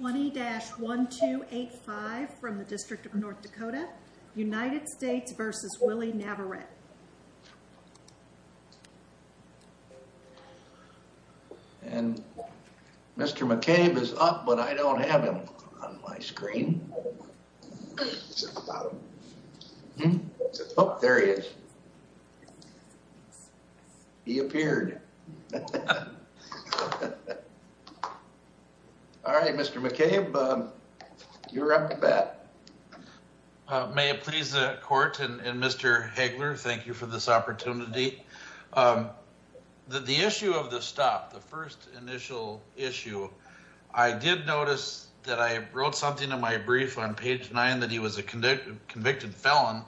20-1285 from the District of North Dakota, United States v. Willie Navarette. And Mr. McCabe is up, but I don't have him on my screen. Oh, there he is. He appeared. All right, Mr. McCabe, you're up to bat. May it please the court and Mr. Hagler, thank you for this opportunity. The issue of the stop, the first initial issue, I did notice that I wrote something in my brief on page nine that he was a convicted felon.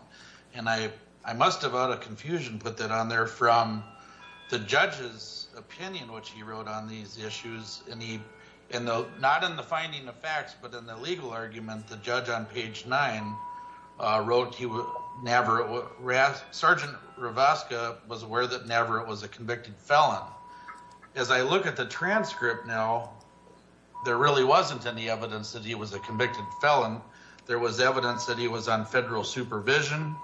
And I must have, out of confusion, put that on there from the judge's opinion, which he wrote on these issues. And not in the finding of facts, but in the legal argument, the judge on page nine wrote he was Navarette. Sergeant Rivaska was aware that Navarette was a convicted felon. As I look at the transcript now, there really wasn't any evidence that he was a convicted felon. There was evidence that he was on federal supervision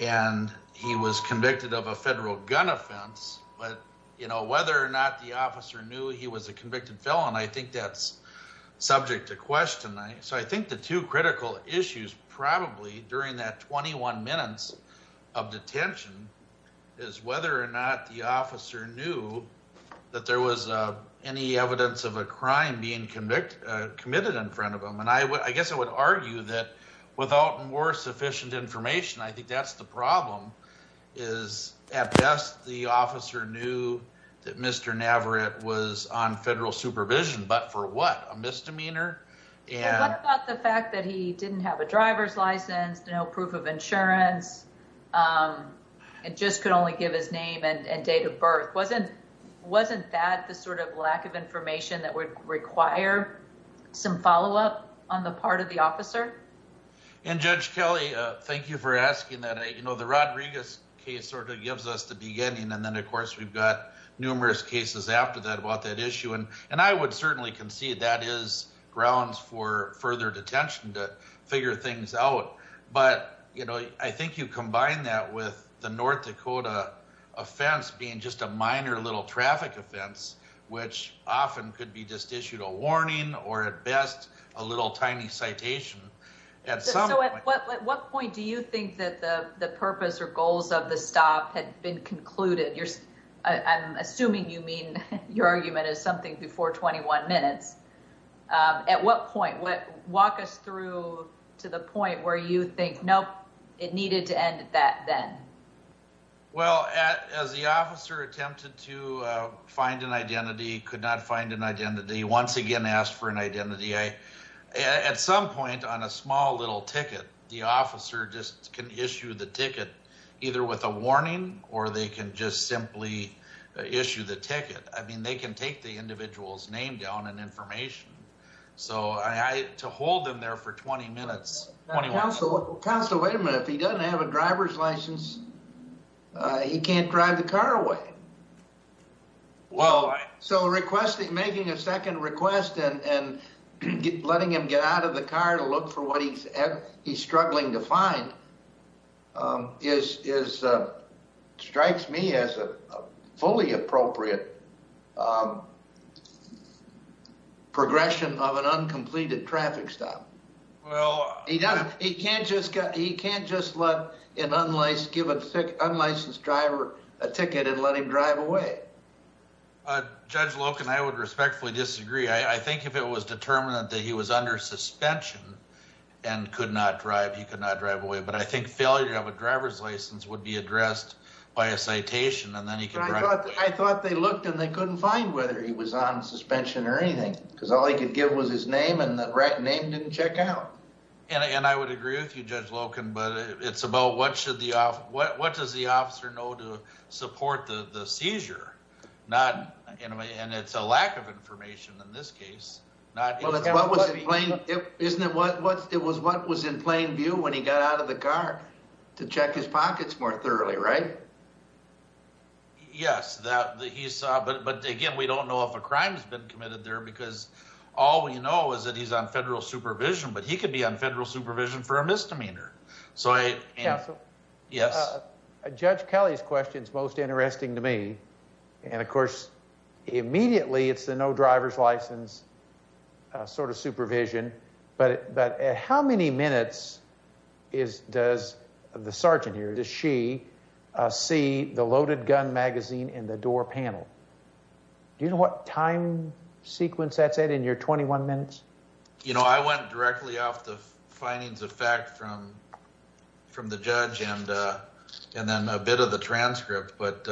and he was convicted of a federal gun offense. But, you know, whether or not the officer knew he was a convicted felon, I think that's subject to question. So I think the two critical issues probably during that 21 minutes of detention is whether or not the officer knew that there was any evidence of a crime being committed in front of him. And I guess I would argue that without more sufficient information, I think that's the problem. Is at best, the officer knew that Mr. Navarette was on federal supervision, but for what? A misdemeanor? And what about the fact that he didn't have a driver's license, no proof of insurance, and just could only give his name and date of birth? Wasn't that the sort of lack of information that would require some follow up on the part of the officer? And Judge Kelly, thank you for asking that. The Rodriguez case sort of gives us the beginning and then of course we've got numerous cases after that about that issue. And I would certainly concede that is grounds for further detention to figure things out. But I think you combine that with the North Dakota offense being just a minor little traffic offense, which often could be just issued a warning or at best a little tiny citation. So at what point do you think that the purpose or goals of the stop had been concluded? I'm assuming you mean your argument is something before 21 minutes. At what point? Walk us through to the point where you think, nope, it needed to end that then. Well, as the officer attempted to find an identity, could not find an identity, once again asked for an identity. At some point on a small little ticket, the officer just can issue the ticket either with a warning or they can just simply issue the ticket. I mean, they can take the individual's name down and information. So to hold them there for 20 minutes, 21 minutes. Counselor, wait a minute. If he doesn't have a driver's license, he can't drive the car away. Why? So making a second request and letting him get out of the car to look for what he's struggling to find strikes me as a fully appropriate progression of an uncompleted traffic stop. He can't just give an unlicensed driver a ticket and let him drive away. Judge Loken, I would respectfully disagree. I think if it was determined that he was under suspension and could not drive, he could not drive away. But I think failure to have a driver's license would be addressed by a citation. I thought they looked and they couldn't find whether he was on suspension or anything, because all he could give was his name and the name didn't check out. And I would agree with you, Judge Loken, but it's about what does the officer know to support the seizure? And it's a lack of information in this case. Isn't it what was in plain view when he got out of the car? To check his pockets more thoroughly, right? Yes, but again, we don't know if a crime has been committed there because all we know is that he's on federal supervision, but he could be on federal supervision for a misdemeanor. Counselor? Yes? Judge Kelly's question is most interesting to me. And of course, immediately it's the no driver's license sort of supervision. But at how many minutes does the sergeant here, does she see the loaded gun magazine in the door panel? Do you know what time sequence that's at in your 21 minutes? You know, I went directly off the findings of fact from the judge and then a bit of the transcript, but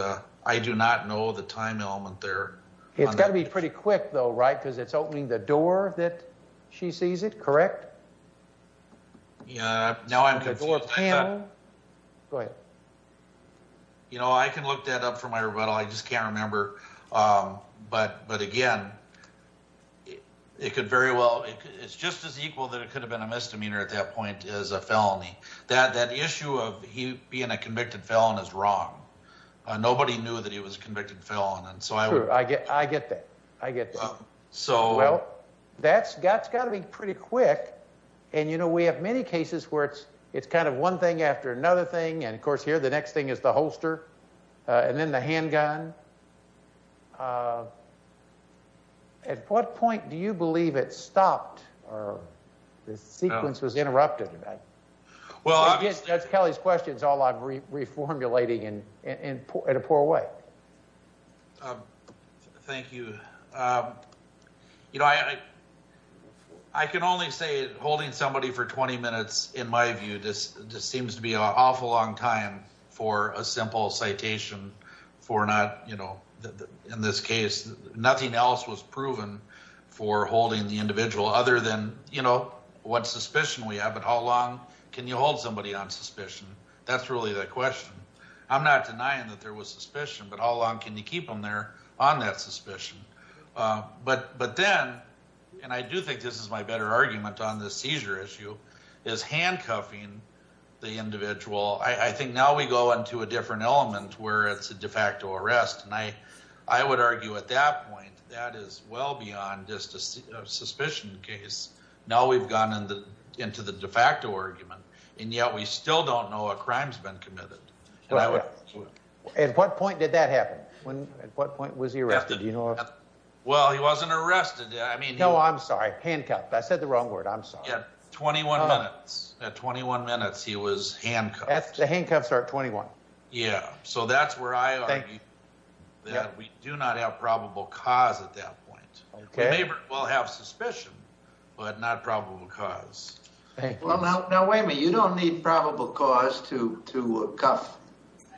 I do not know the time element there. It's got to be pretty quick though, right? Because it's opening the door that she sees it, correct? Yeah, now I'm confused. Go ahead. You know, I can look that up for my rebuttal. I just can't remember. But again, it's just as equal that it could have been a misdemeanor at that point as a felony. That issue of him being a convicted felon is wrong. Nobody knew that he was a convicted felon. True, I get that. I get that. Well, that's got to be pretty quick. And you know, we have many cases where it's kind of one thing after another thing. And of course here, the next thing is the holster and then the handgun. At what point do you believe it stopped or the sequence was interrupted? That's Kelly's question. It's all I'm reformulating in a poor way. Thank you. You know, I can only say holding somebody for 20 minutes, in my view, just seems to be an awful long time for a simple citation. For not, you know, in this case, nothing else was proven for holding the individual other than, you know, what suspicion we have. But how long can you hold somebody on suspicion? That's really the question. I'm not denying that there was suspicion, but how long can you keep them there on that suspicion? But then, and I do think this is my better argument on this seizure issue, is handcuffing the individual. I think now we go into a different element where it's a de facto arrest. And I would argue at that point, that is well beyond just a suspicion case. Now we've gone into the de facto argument, and yet we still don't know a crime's been committed. At what point did that happen? At what point was he arrested? Well, he wasn't arrested. No, I'm sorry. Handcuffed. I said the wrong word. I'm sorry. At 21 minutes. At 21 minutes, he was handcuffed. The handcuffs are at 21. Yeah, so that's where I argue that we do not have probable cause at that point. We may well have suspicion, but not probable cause. Well, now wait a minute. You don't need probable cause to cuff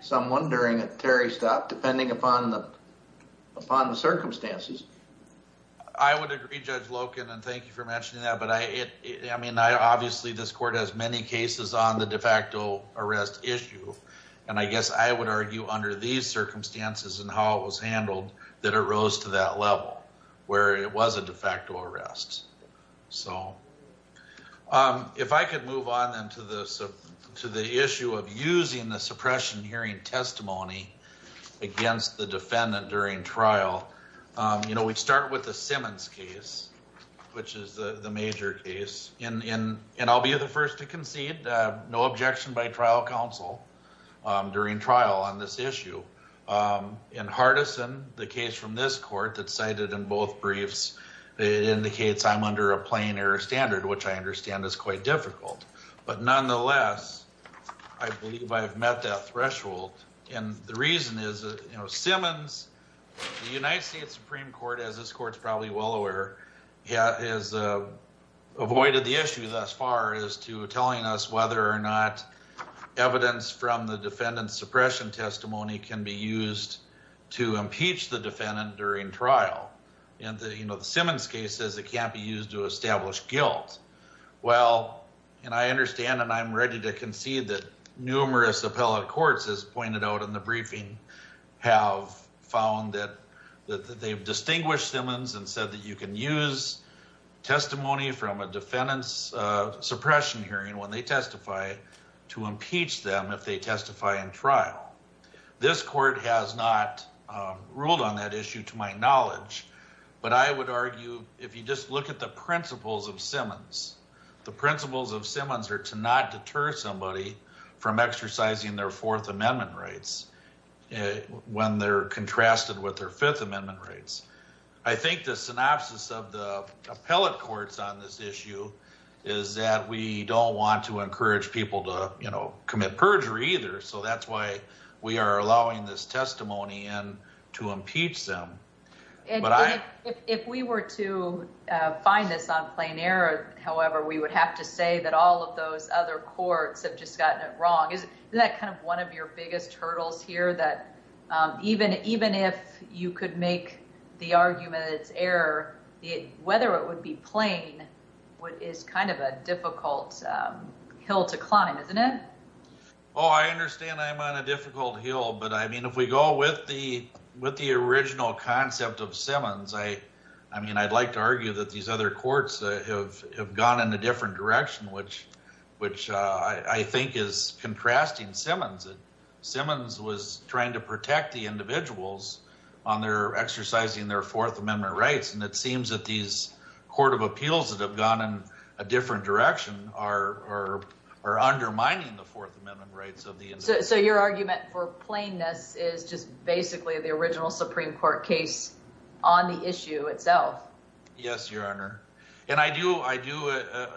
someone during a Terry stop, depending upon the circumstances. I would agree, Judge Loken, and thank you for mentioning that. I mean, obviously this court has many cases on the de facto arrest issue. And I guess I would argue under these circumstances and how it was handled, that it rose to that level, where it was a de facto arrest. So, if I could move on then to the issue of using the suppression hearing testimony against the defendant during trial. You know, we'd start with the Simmons case, which is the major case. And I'll be the first to concede, no objection by trial counsel during trial on this issue. In Hardison, the case from this court that's cited in both briefs, it indicates I'm under a plain error standard, which I understand is quite difficult. But nonetheless, I believe I've met that threshold. And the reason is that, you know, Simmons, the United States Supreme Court, as this court's probably well aware, has avoided the issue thus far as to telling us whether or not evidence from the defendant's suppression testimony can be used to impeach the defendant during trial. In the Simmons case, it says it can't be used to establish guilt. Well, and I understand and I'm ready to concede that numerous appellate courts, as pointed out in the briefing, have found that they've distinguished Simmons and said that you can use testimony from a defendant's suppression hearing when they testify to impeach them if they testify in trial. This court has not ruled on that issue to my knowledge, but I would argue if you just look at the principles of Simmons, the principles of Simmons are to not deter somebody from exercising their Fourth Amendment rights. When they're contrasted with their Fifth Amendment rights. I think the synopsis of the appellate courts on this issue is that we don't want to encourage people to, you know, commit perjury either. So that's why we are allowing this testimony in to impeach them. If we were to find this on plain error, however, we would have to say that all of those other courts have just gotten it wrong. Isn't that kind of one of your biggest hurdles here that even if you could make the argument that it's error, whether it would be plain is kind of a difficult hill to climb, isn't it? Oh, I understand I'm on a difficult hill. But I mean, if we go with the original concept of Simmons, I mean, I'd like to argue that these other courts have gone in a different direction, which I think is contrasting Simmons. Simmons was trying to protect the individuals on their exercising their Fourth Amendment rights. And it seems that these court of appeals that have gone in a different direction are undermining the Fourth Amendment rights of the individual. So your argument for plainness is just basically the original Supreme Court case on the issue itself. Yes, Your Honor. And I do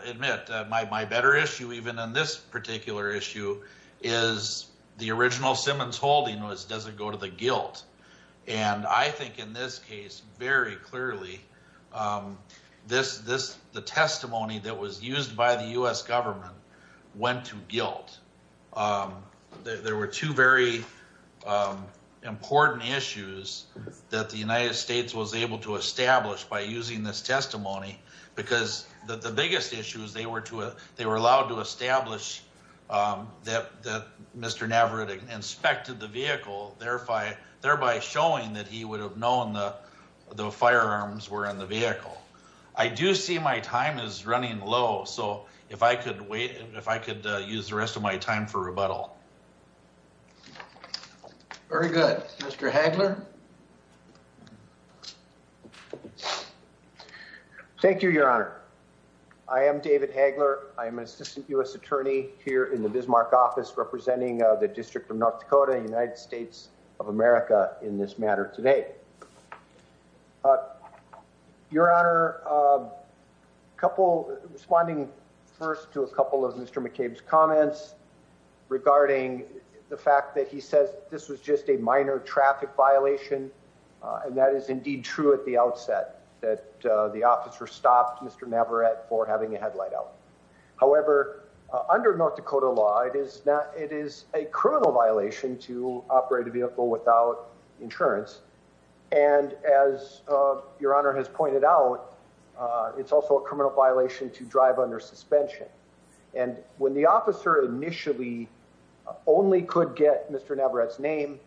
admit my better issue even on this particular issue is the original Simmons holding was, does it go to the guilt? And I think in this case, very clearly, the testimony that was used by the U.S. government went to guilt. There were two very important issues that the United States was able to establish by using this testimony. Because the biggest issue is they were allowed to establish that Mr. Navarrete inspected the vehicle, thereby showing that he would have known the firearms were in the vehicle. I do see my time is running low, so if I could wait, if I could use the rest of my time for rebuttal. Very good. Mr. Hagler. Thank you, Your Honor. I am David Hagler. I am an assistant U.S. attorney here in the Bismarck office representing the District of North Dakota, United States of America in this matter today. Your Honor, responding first to a couple of Mr. McCabe's comments regarding the fact that he says this was just a minor traffic violation. And that is indeed true at the outset that the officer stopped Mr. Navarrete for having a headlight out. However, under North Dakota law, it is a criminal violation to operate a vehicle without insurance. And as Your Honor has pointed out, it's also a criminal violation to drive under suspension. And when the officer initially only could get Mr. Navarrete's name,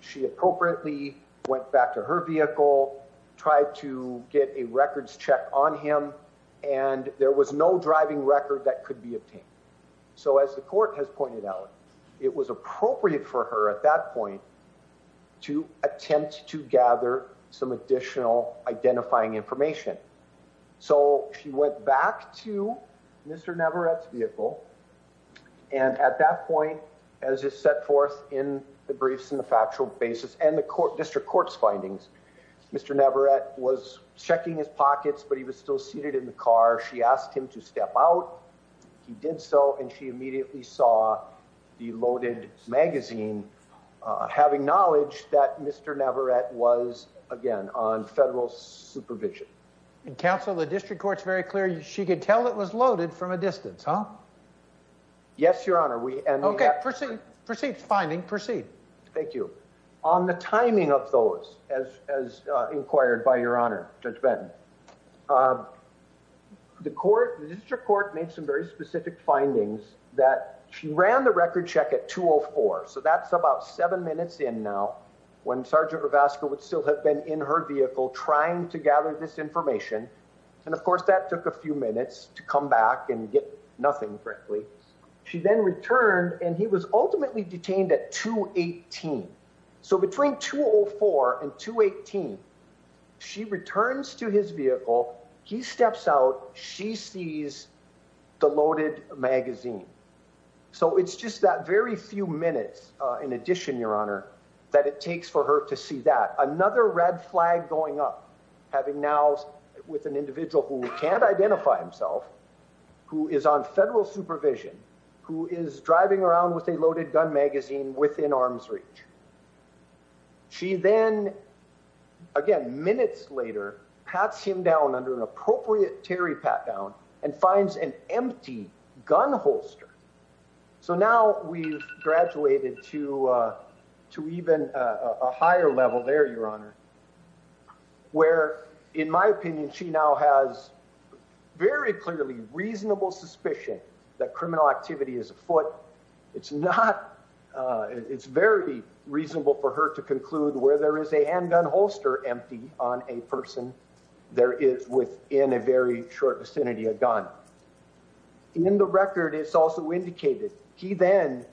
she appropriately went back to her vehicle, tried to get a records check on him. And there was no driving record that could be obtained. So as the court has pointed out, it was appropriate for her at that point to attempt to gather some additional identifying information. So she went back to Mr. Navarrete's vehicle. And at that point, as is set forth in the briefs and the factual basis and the district court's findings, Mr. Navarrete was checking his pockets, but he was still seated in the car. She asked him to step out. He did so, and she immediately saw the loaded magazine having knowledge that Mr. Navarrete was, again, on federal supervision. And counsel, the district court's very clear. She could tell it was loaded from a distance, huh? Yes, Your Honor. Okay. Proceed. Proceed with the finding. Proceed. Thank you. On the timing of those, as inquired by Your Honor, Judge Benton, the district court made some very specific findings that she ran the record check at 2.04. So that's about seven minutes in now, when Sergeant Rivasco would still have been in her vehicle trying to gather this information. And, of course, that took a few minutes to come back and get nothing, frankly. She then returned, and he was ultimately detained at 2.18. So between 2.04 and 2.18, she returns to his vehicle. He steps out. She sees the loaded magazine. So it's just that very few minutes, in addition, Your Honor, that it takes for her to see that. Another red flag going up, having now with an individual who can't identify himself, who is on federal supervision, who is driving around with a loaded gun magazine within arm's reach. She then, again, minutes later, pats him down under an appropriate terry pat-down and finds an empty gun holster. So now we've graduated to even a higher level there, Your Honor, where, in my opinion, she now has very clearly reasonable suspicion that criminal activity is afoot. It's very reasonable for her to conclude where there is a handgun holster empty on a person, there is, within a very short vicinity, a gun. In the record, it's also indicated he then,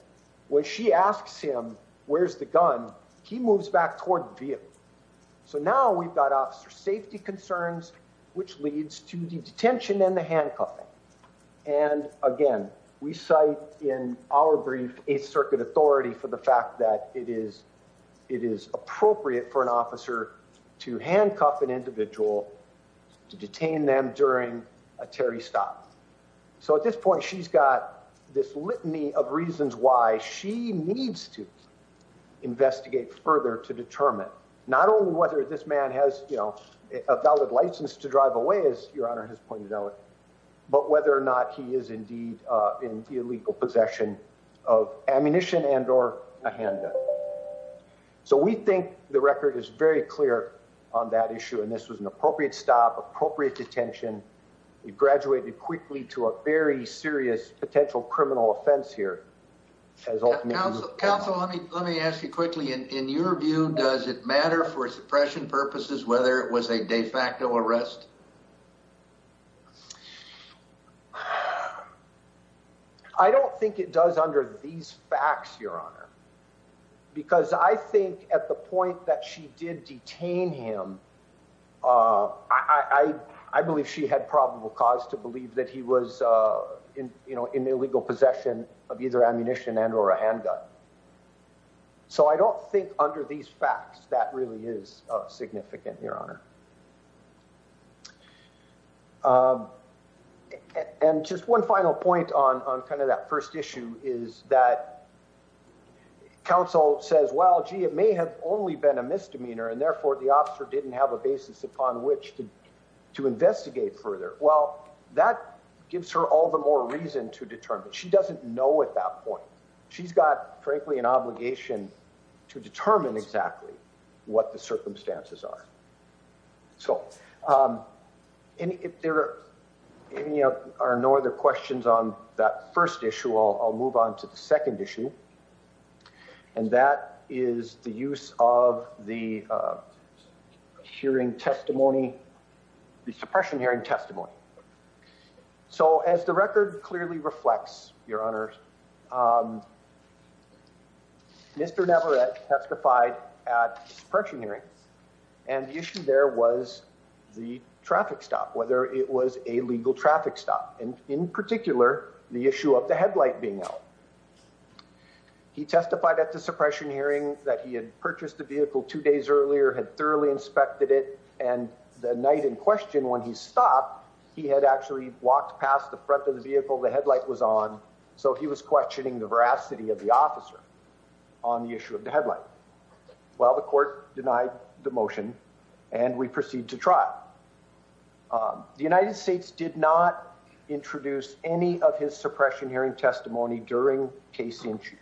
when she asks him, where's the gun, he moves back toward the vehicle. So now we've got officer safety concerns, which leads to the detention and the handcuffing. And, again, we cite in our brief Eighth Circuit authority for the fact that it is appropriate for an officer to handcuff an individual to detain them during a terry stop. So at this point, she's got this litany of reasons why she needs to investigate further to determine not only whether this man has a valid license to drive away, as Your Honor has pointed out, but whether or not he is indeed in the illegal possession of ammunition and or a handgun. So we think the record is very clear on that issue, and this was an appropriate stop, appropriate detention. We've graduated quickly to a very serious potential criminal offense here. Counsel, let me ask you quickly. In your view, does it matter for suppression purposes whether it was a de facto arrest? I don't think it does under these facts, Your Honor, because I think at the point that she did detain him, I believe she had probable cause to believe that he was in illegal possession of either ammunition and or a handgun. So I don't think under these facts that really is significant, Your Honor. And just one final point on kind of that first issue is that counsel says, well, gee, it may have only been a misdemeanor and therefore the officer didn't have a basis upon which to investigate further. Well, that gives her all the more reason to determine. She doesn't know at that point. She's got, frankly, an obligation to determine exactly what the circumstances are. So if there are no other questions on that first issue, I'll move on to the second issue. And that is the use of the hearing testimony, the suppression hearing testimony. So as the record clearly reflects, Your Honor, Mr. Navarrete testified at suppression hearings and the issue there was the traffic stop, whether it was a legal traffic stop and in particular the issue of the headlight being out. He testified at the suppression hearing that he had purchased the vehicle two days earlier, had thoroughly inspected it, and the night in question when he stopped, he had actually walked past the front of the vehicle. The headlight was on, so he was questioning the veracity of the officer on the issue of the headlight. Well, the court denied the motion and we proceed to trial. The United States did not introduce any of his suppression hearing testimony during case in chief.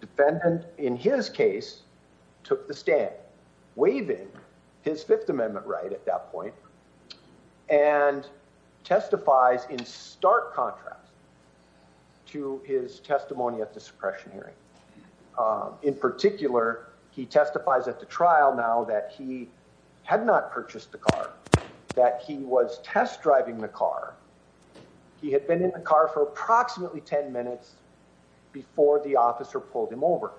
Defendant, in his case, took the stand, waiving his Fifth Amendment right at that point, and testifies in stark contrast to his testimony at the suppression hearing. In particular, he testifies at the trial now that he had not purchased the car, that he was test driving the car. He had been in the car for approximately 10 minutes before the officer pulled him over,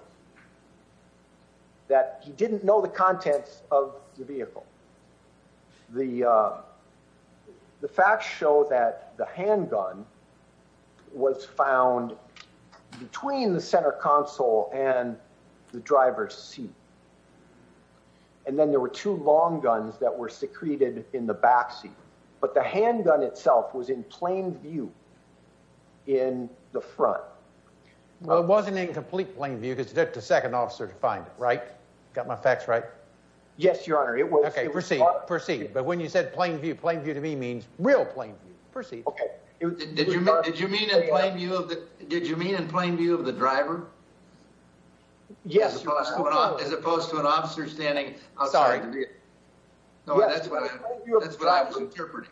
that he didn't know the contents of the vehicle. The facts show that the handgun was found between the center console and the driver's seat. And then there were two long guns that were secreted in the backseat, but the handgun itself was in plain view in the front. Well, it wasn't in complete plain view because it took the second officer to find it, right? Got my facts right? Yes, Your Honor. It was. Okay, proceed. But when you said plain view, plain view to me means real plain view. Proceed. Okay. Did you mean in plain view of the driver? Yes, Your Honor. As opposed to an officer standing outside the vehicle. Sorry. No, that's what I was interpreting.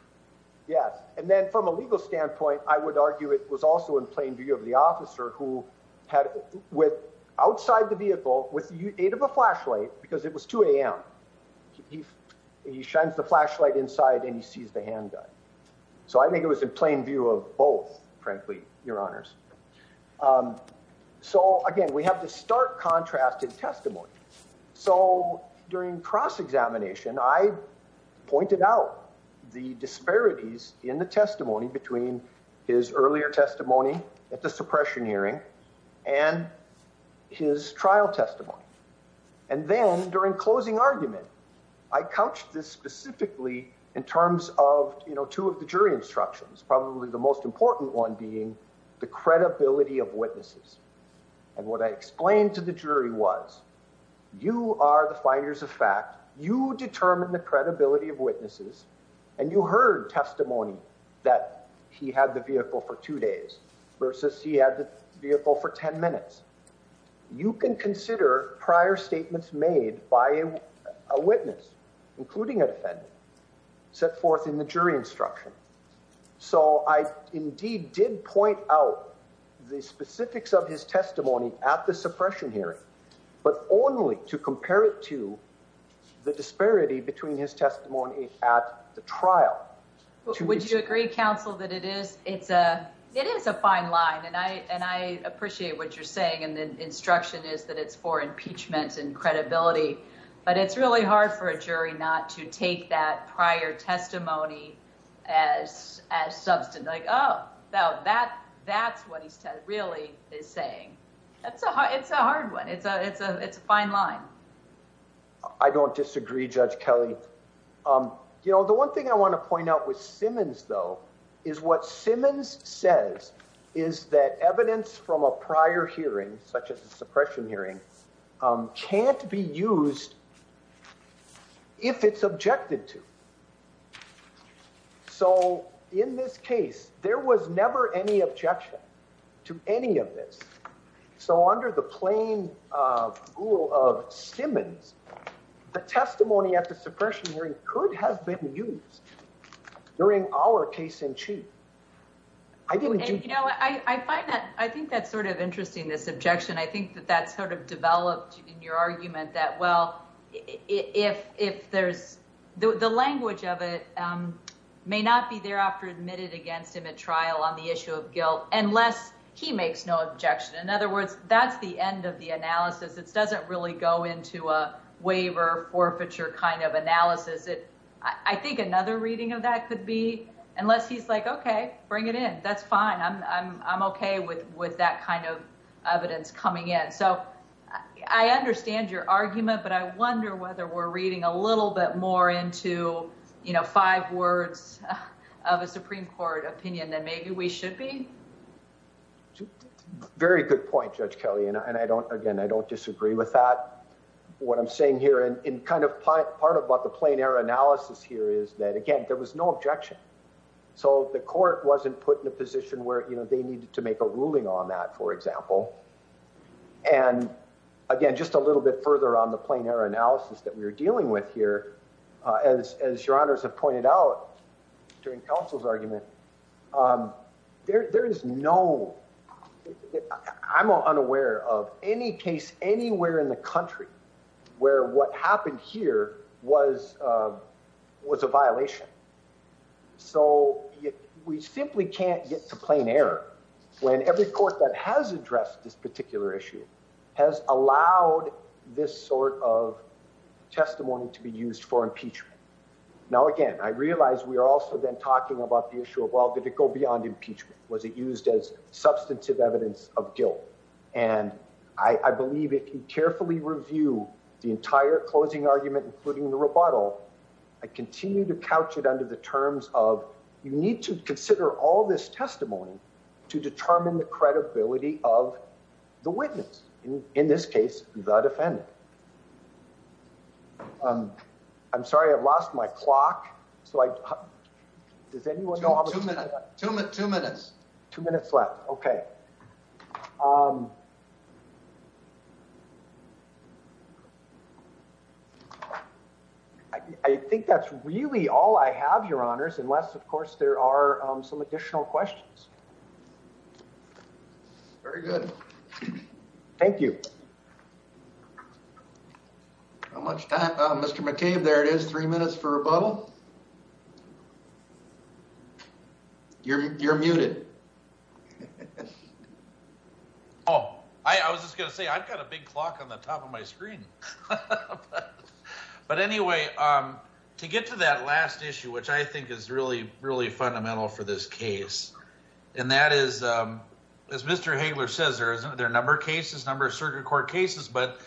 Yes. And then from a legal standpoint, I would argue it was also in plain view of the officer who had with outside the vehicle with the aid of a flashlight because it was 2 a.m. He shines the flashlight inside and he sees the handgun. So I think it was in plain view of both, frankly, Your Honors. So again, we have to start contrast in testimony. So during cross-examination, I pointed out the disparities in the testimony between his earlier testimony at the suppression hearing and his trial testimony. And then during closing argument, I couched this specifically in terms of, you know, two of the jury instructions, probably the most important one being the credibility of witnesses. And what I explained to the jury was, you are the finders of fact, you determine the credibility of witnesses, and you heard testimony that he had the vehicle for two days versus he had the vehicle for 10 minutes. You can consider prior statements made by a witness, including a defendant, set forth in the jury instruction. So I indeed did point out the specifics of his testimony at the suppression hearing, but only to compare it to the disparity between his testimony at the trial. Would you agree, Counsel, that it is a fine line, and I appreciate what you're saying, and the instruction is that it's for impeachment and credibility. But it's really hard for a jury not to take that prior testimony as substance. Like, oh, that's what he really is saying. It's a hard one. It's a fine line. I don't disagree, Judge Kelly. You know, the one thing I want to point out with Simmons, though, is what Simmons says is that evidence from a prior hearing, such as a suppression hearing, can't be used if it's objected to. So in this case, there was never any objection to any of this. So under the plain rule of Simmons, the testimony at the suppression hearing could have been used during our case in chief. You know, I find that I think that's sort of interesting, this objection. I think that that's sort of developed in your argument that, well, if there's the language of it may not be thereafter admitted against him at trial on the issue of guilt unless he makes no objection. In other words, that's the end of the analysis. It doesn't really go into a waiver, forfeiture kind of analysis. I think another reading of that could be unless he's like, OK, bring it in. That's fine. I'm OK with that kind of evidence coming in. So I understand your argument, but I wonder whether we're reading a little bit more into, you know, five words of a Supreme Court opinion than maybe we should be. Very good point, Judge Kelly. And I don't again, I don't disagree with that. What I'm saying here and in kind of part of what the plain error analysis here is that, again, there was no objection. So the court wasn't put in a position where they needed to make a ruling on that, for example. And again, just a little bit further on the plain error analysis that we were dealing with here, as your honors have pointed out during counsel's argument. There is no, I'm unaware of any case anywhere in the country where what happened here was a violation. So we simply can't get to plain error when every court that has addressed this particular issue has allowed this sort of testimony to be used for impeachment. Now, again, I realize we are also then talking about the issue of, well, did it go beyond impeachment? Was it used as substantive evidence of guilt? And I believe if you carefully review the entire closing argument, including the rebuttal, I continue to couch it under the terms of you need to consider all this testimony to determine the credibility of the witness. In this case, the defendant. I'm sorry, I've lost my clock. So does anyone know how to two minutes, two minutes, two minutes left? OK. I think that's really all I have, your honors, unless, of course, there are some additional questions. Very good. Thank you. How much time, Mr. McCabe? There it is. Three minutes for rebuttal. You're muted. Oh, I was just going to say, I've got a big clock on the top of my screen. But anyway, to get to that last issue, which I think is really, really fundamental for this case. And that is, as Mr. Hagler says, there are a number of cases, a number of circuit court cases, but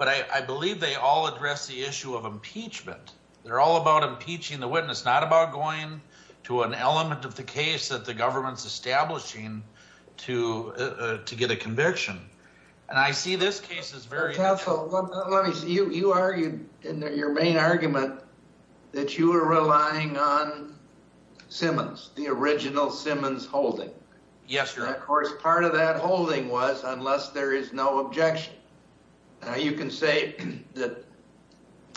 I believe they all address the issue of impeachment. They're all about impeaching the witness, not about going to an element of the case that the government's establishing to get a conviction. And I see this case as very... You argued in your main argument that you were relying on Simmons, the original Simmons holding. Yes, sir. Of course, part of that holding was unless there is no objection. You can say that,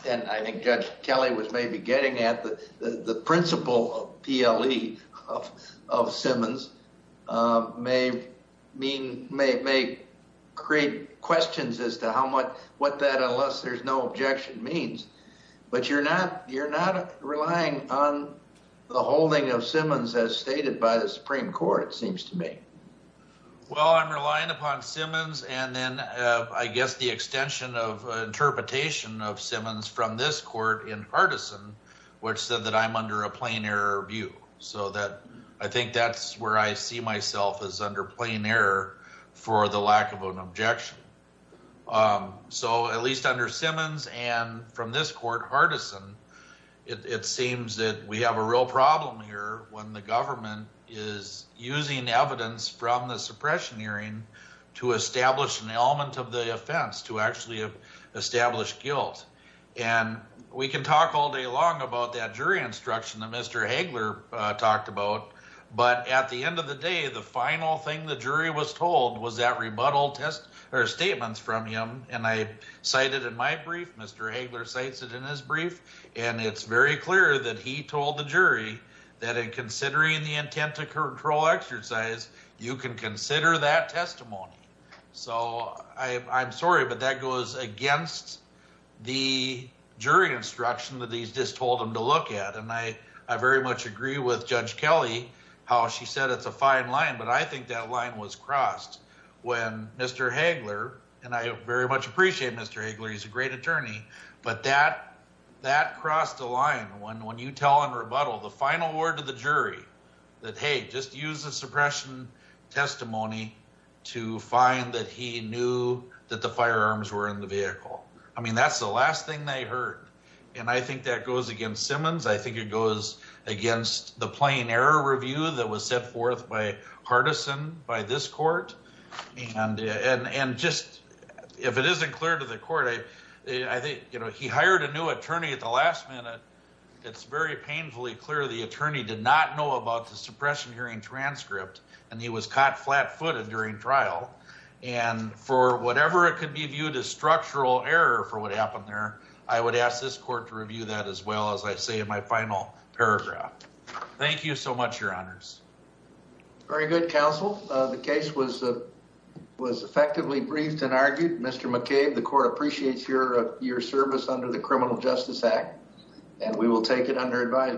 and I think Judge Kelly was maybe getting at, the principle of PLE of Simmons may create questions as to what that unless there's no objection means. But you're not relying on the holding of Simmons as stated by the Supreme Court, it seems to me. Well, I'm relying upon Simmons and then I guess the extension of interpretation of Simmons from this court in Hardison, which said that I'm under a plain error view. So that I think that's where I see myself as under plain error for the lack of an objection. So at least under Simmons and from this court, Hardison, it seems that we have a real problem here when the government is using evidence from the suppression hearing to establish an element of the offense, to actually establish guilt. And we can talk all day long about that jury instruction that Mr. Hagler talked about. But at the end of the day, the final thing the jury was told was that rebuttal test or statements from him. And I cited in my brief, Mr. Hagler cites it in his brief. And it's very clear that he told the jury that in considering the intent to control exercise, you can consider that testimony. So I'm sorry, but that goes against the jury instruction that he's just told him to look at. And I very much agree with Judge Kelly, how she said it's a fine line. But I think that line was crossed when Mr. Hagler, and I very much appreciate Mr. Hagler, he's a great attorney. But that crossed the line when you tell in rebuttal, the final word to the jury that, hey, just use the suppression testimony to find that he knew that the firearms were in the vehicle. I mean, that's the last thing they heard. And I think that goes against Simmons. I think it goes against the plain error review that was set forth by Hardison, by this court. And just, if it isn't clear to the court, I think, you know, he hired a new attorney at the last minute. It's very painfully clear the attorney did not know about the suppression hearing transcript and he was caught flat footed during trial. And for whatever it could be viewed as structural error for what happened there, I would ask this court to review that as well, as I say in my final paragraph. Thank you so much, your honors. Very good, counsel. The case was effectively briefed and argued. Mr. McCabe, the court appreciates your service under the Criminal Justice Act and we will take it under advisement.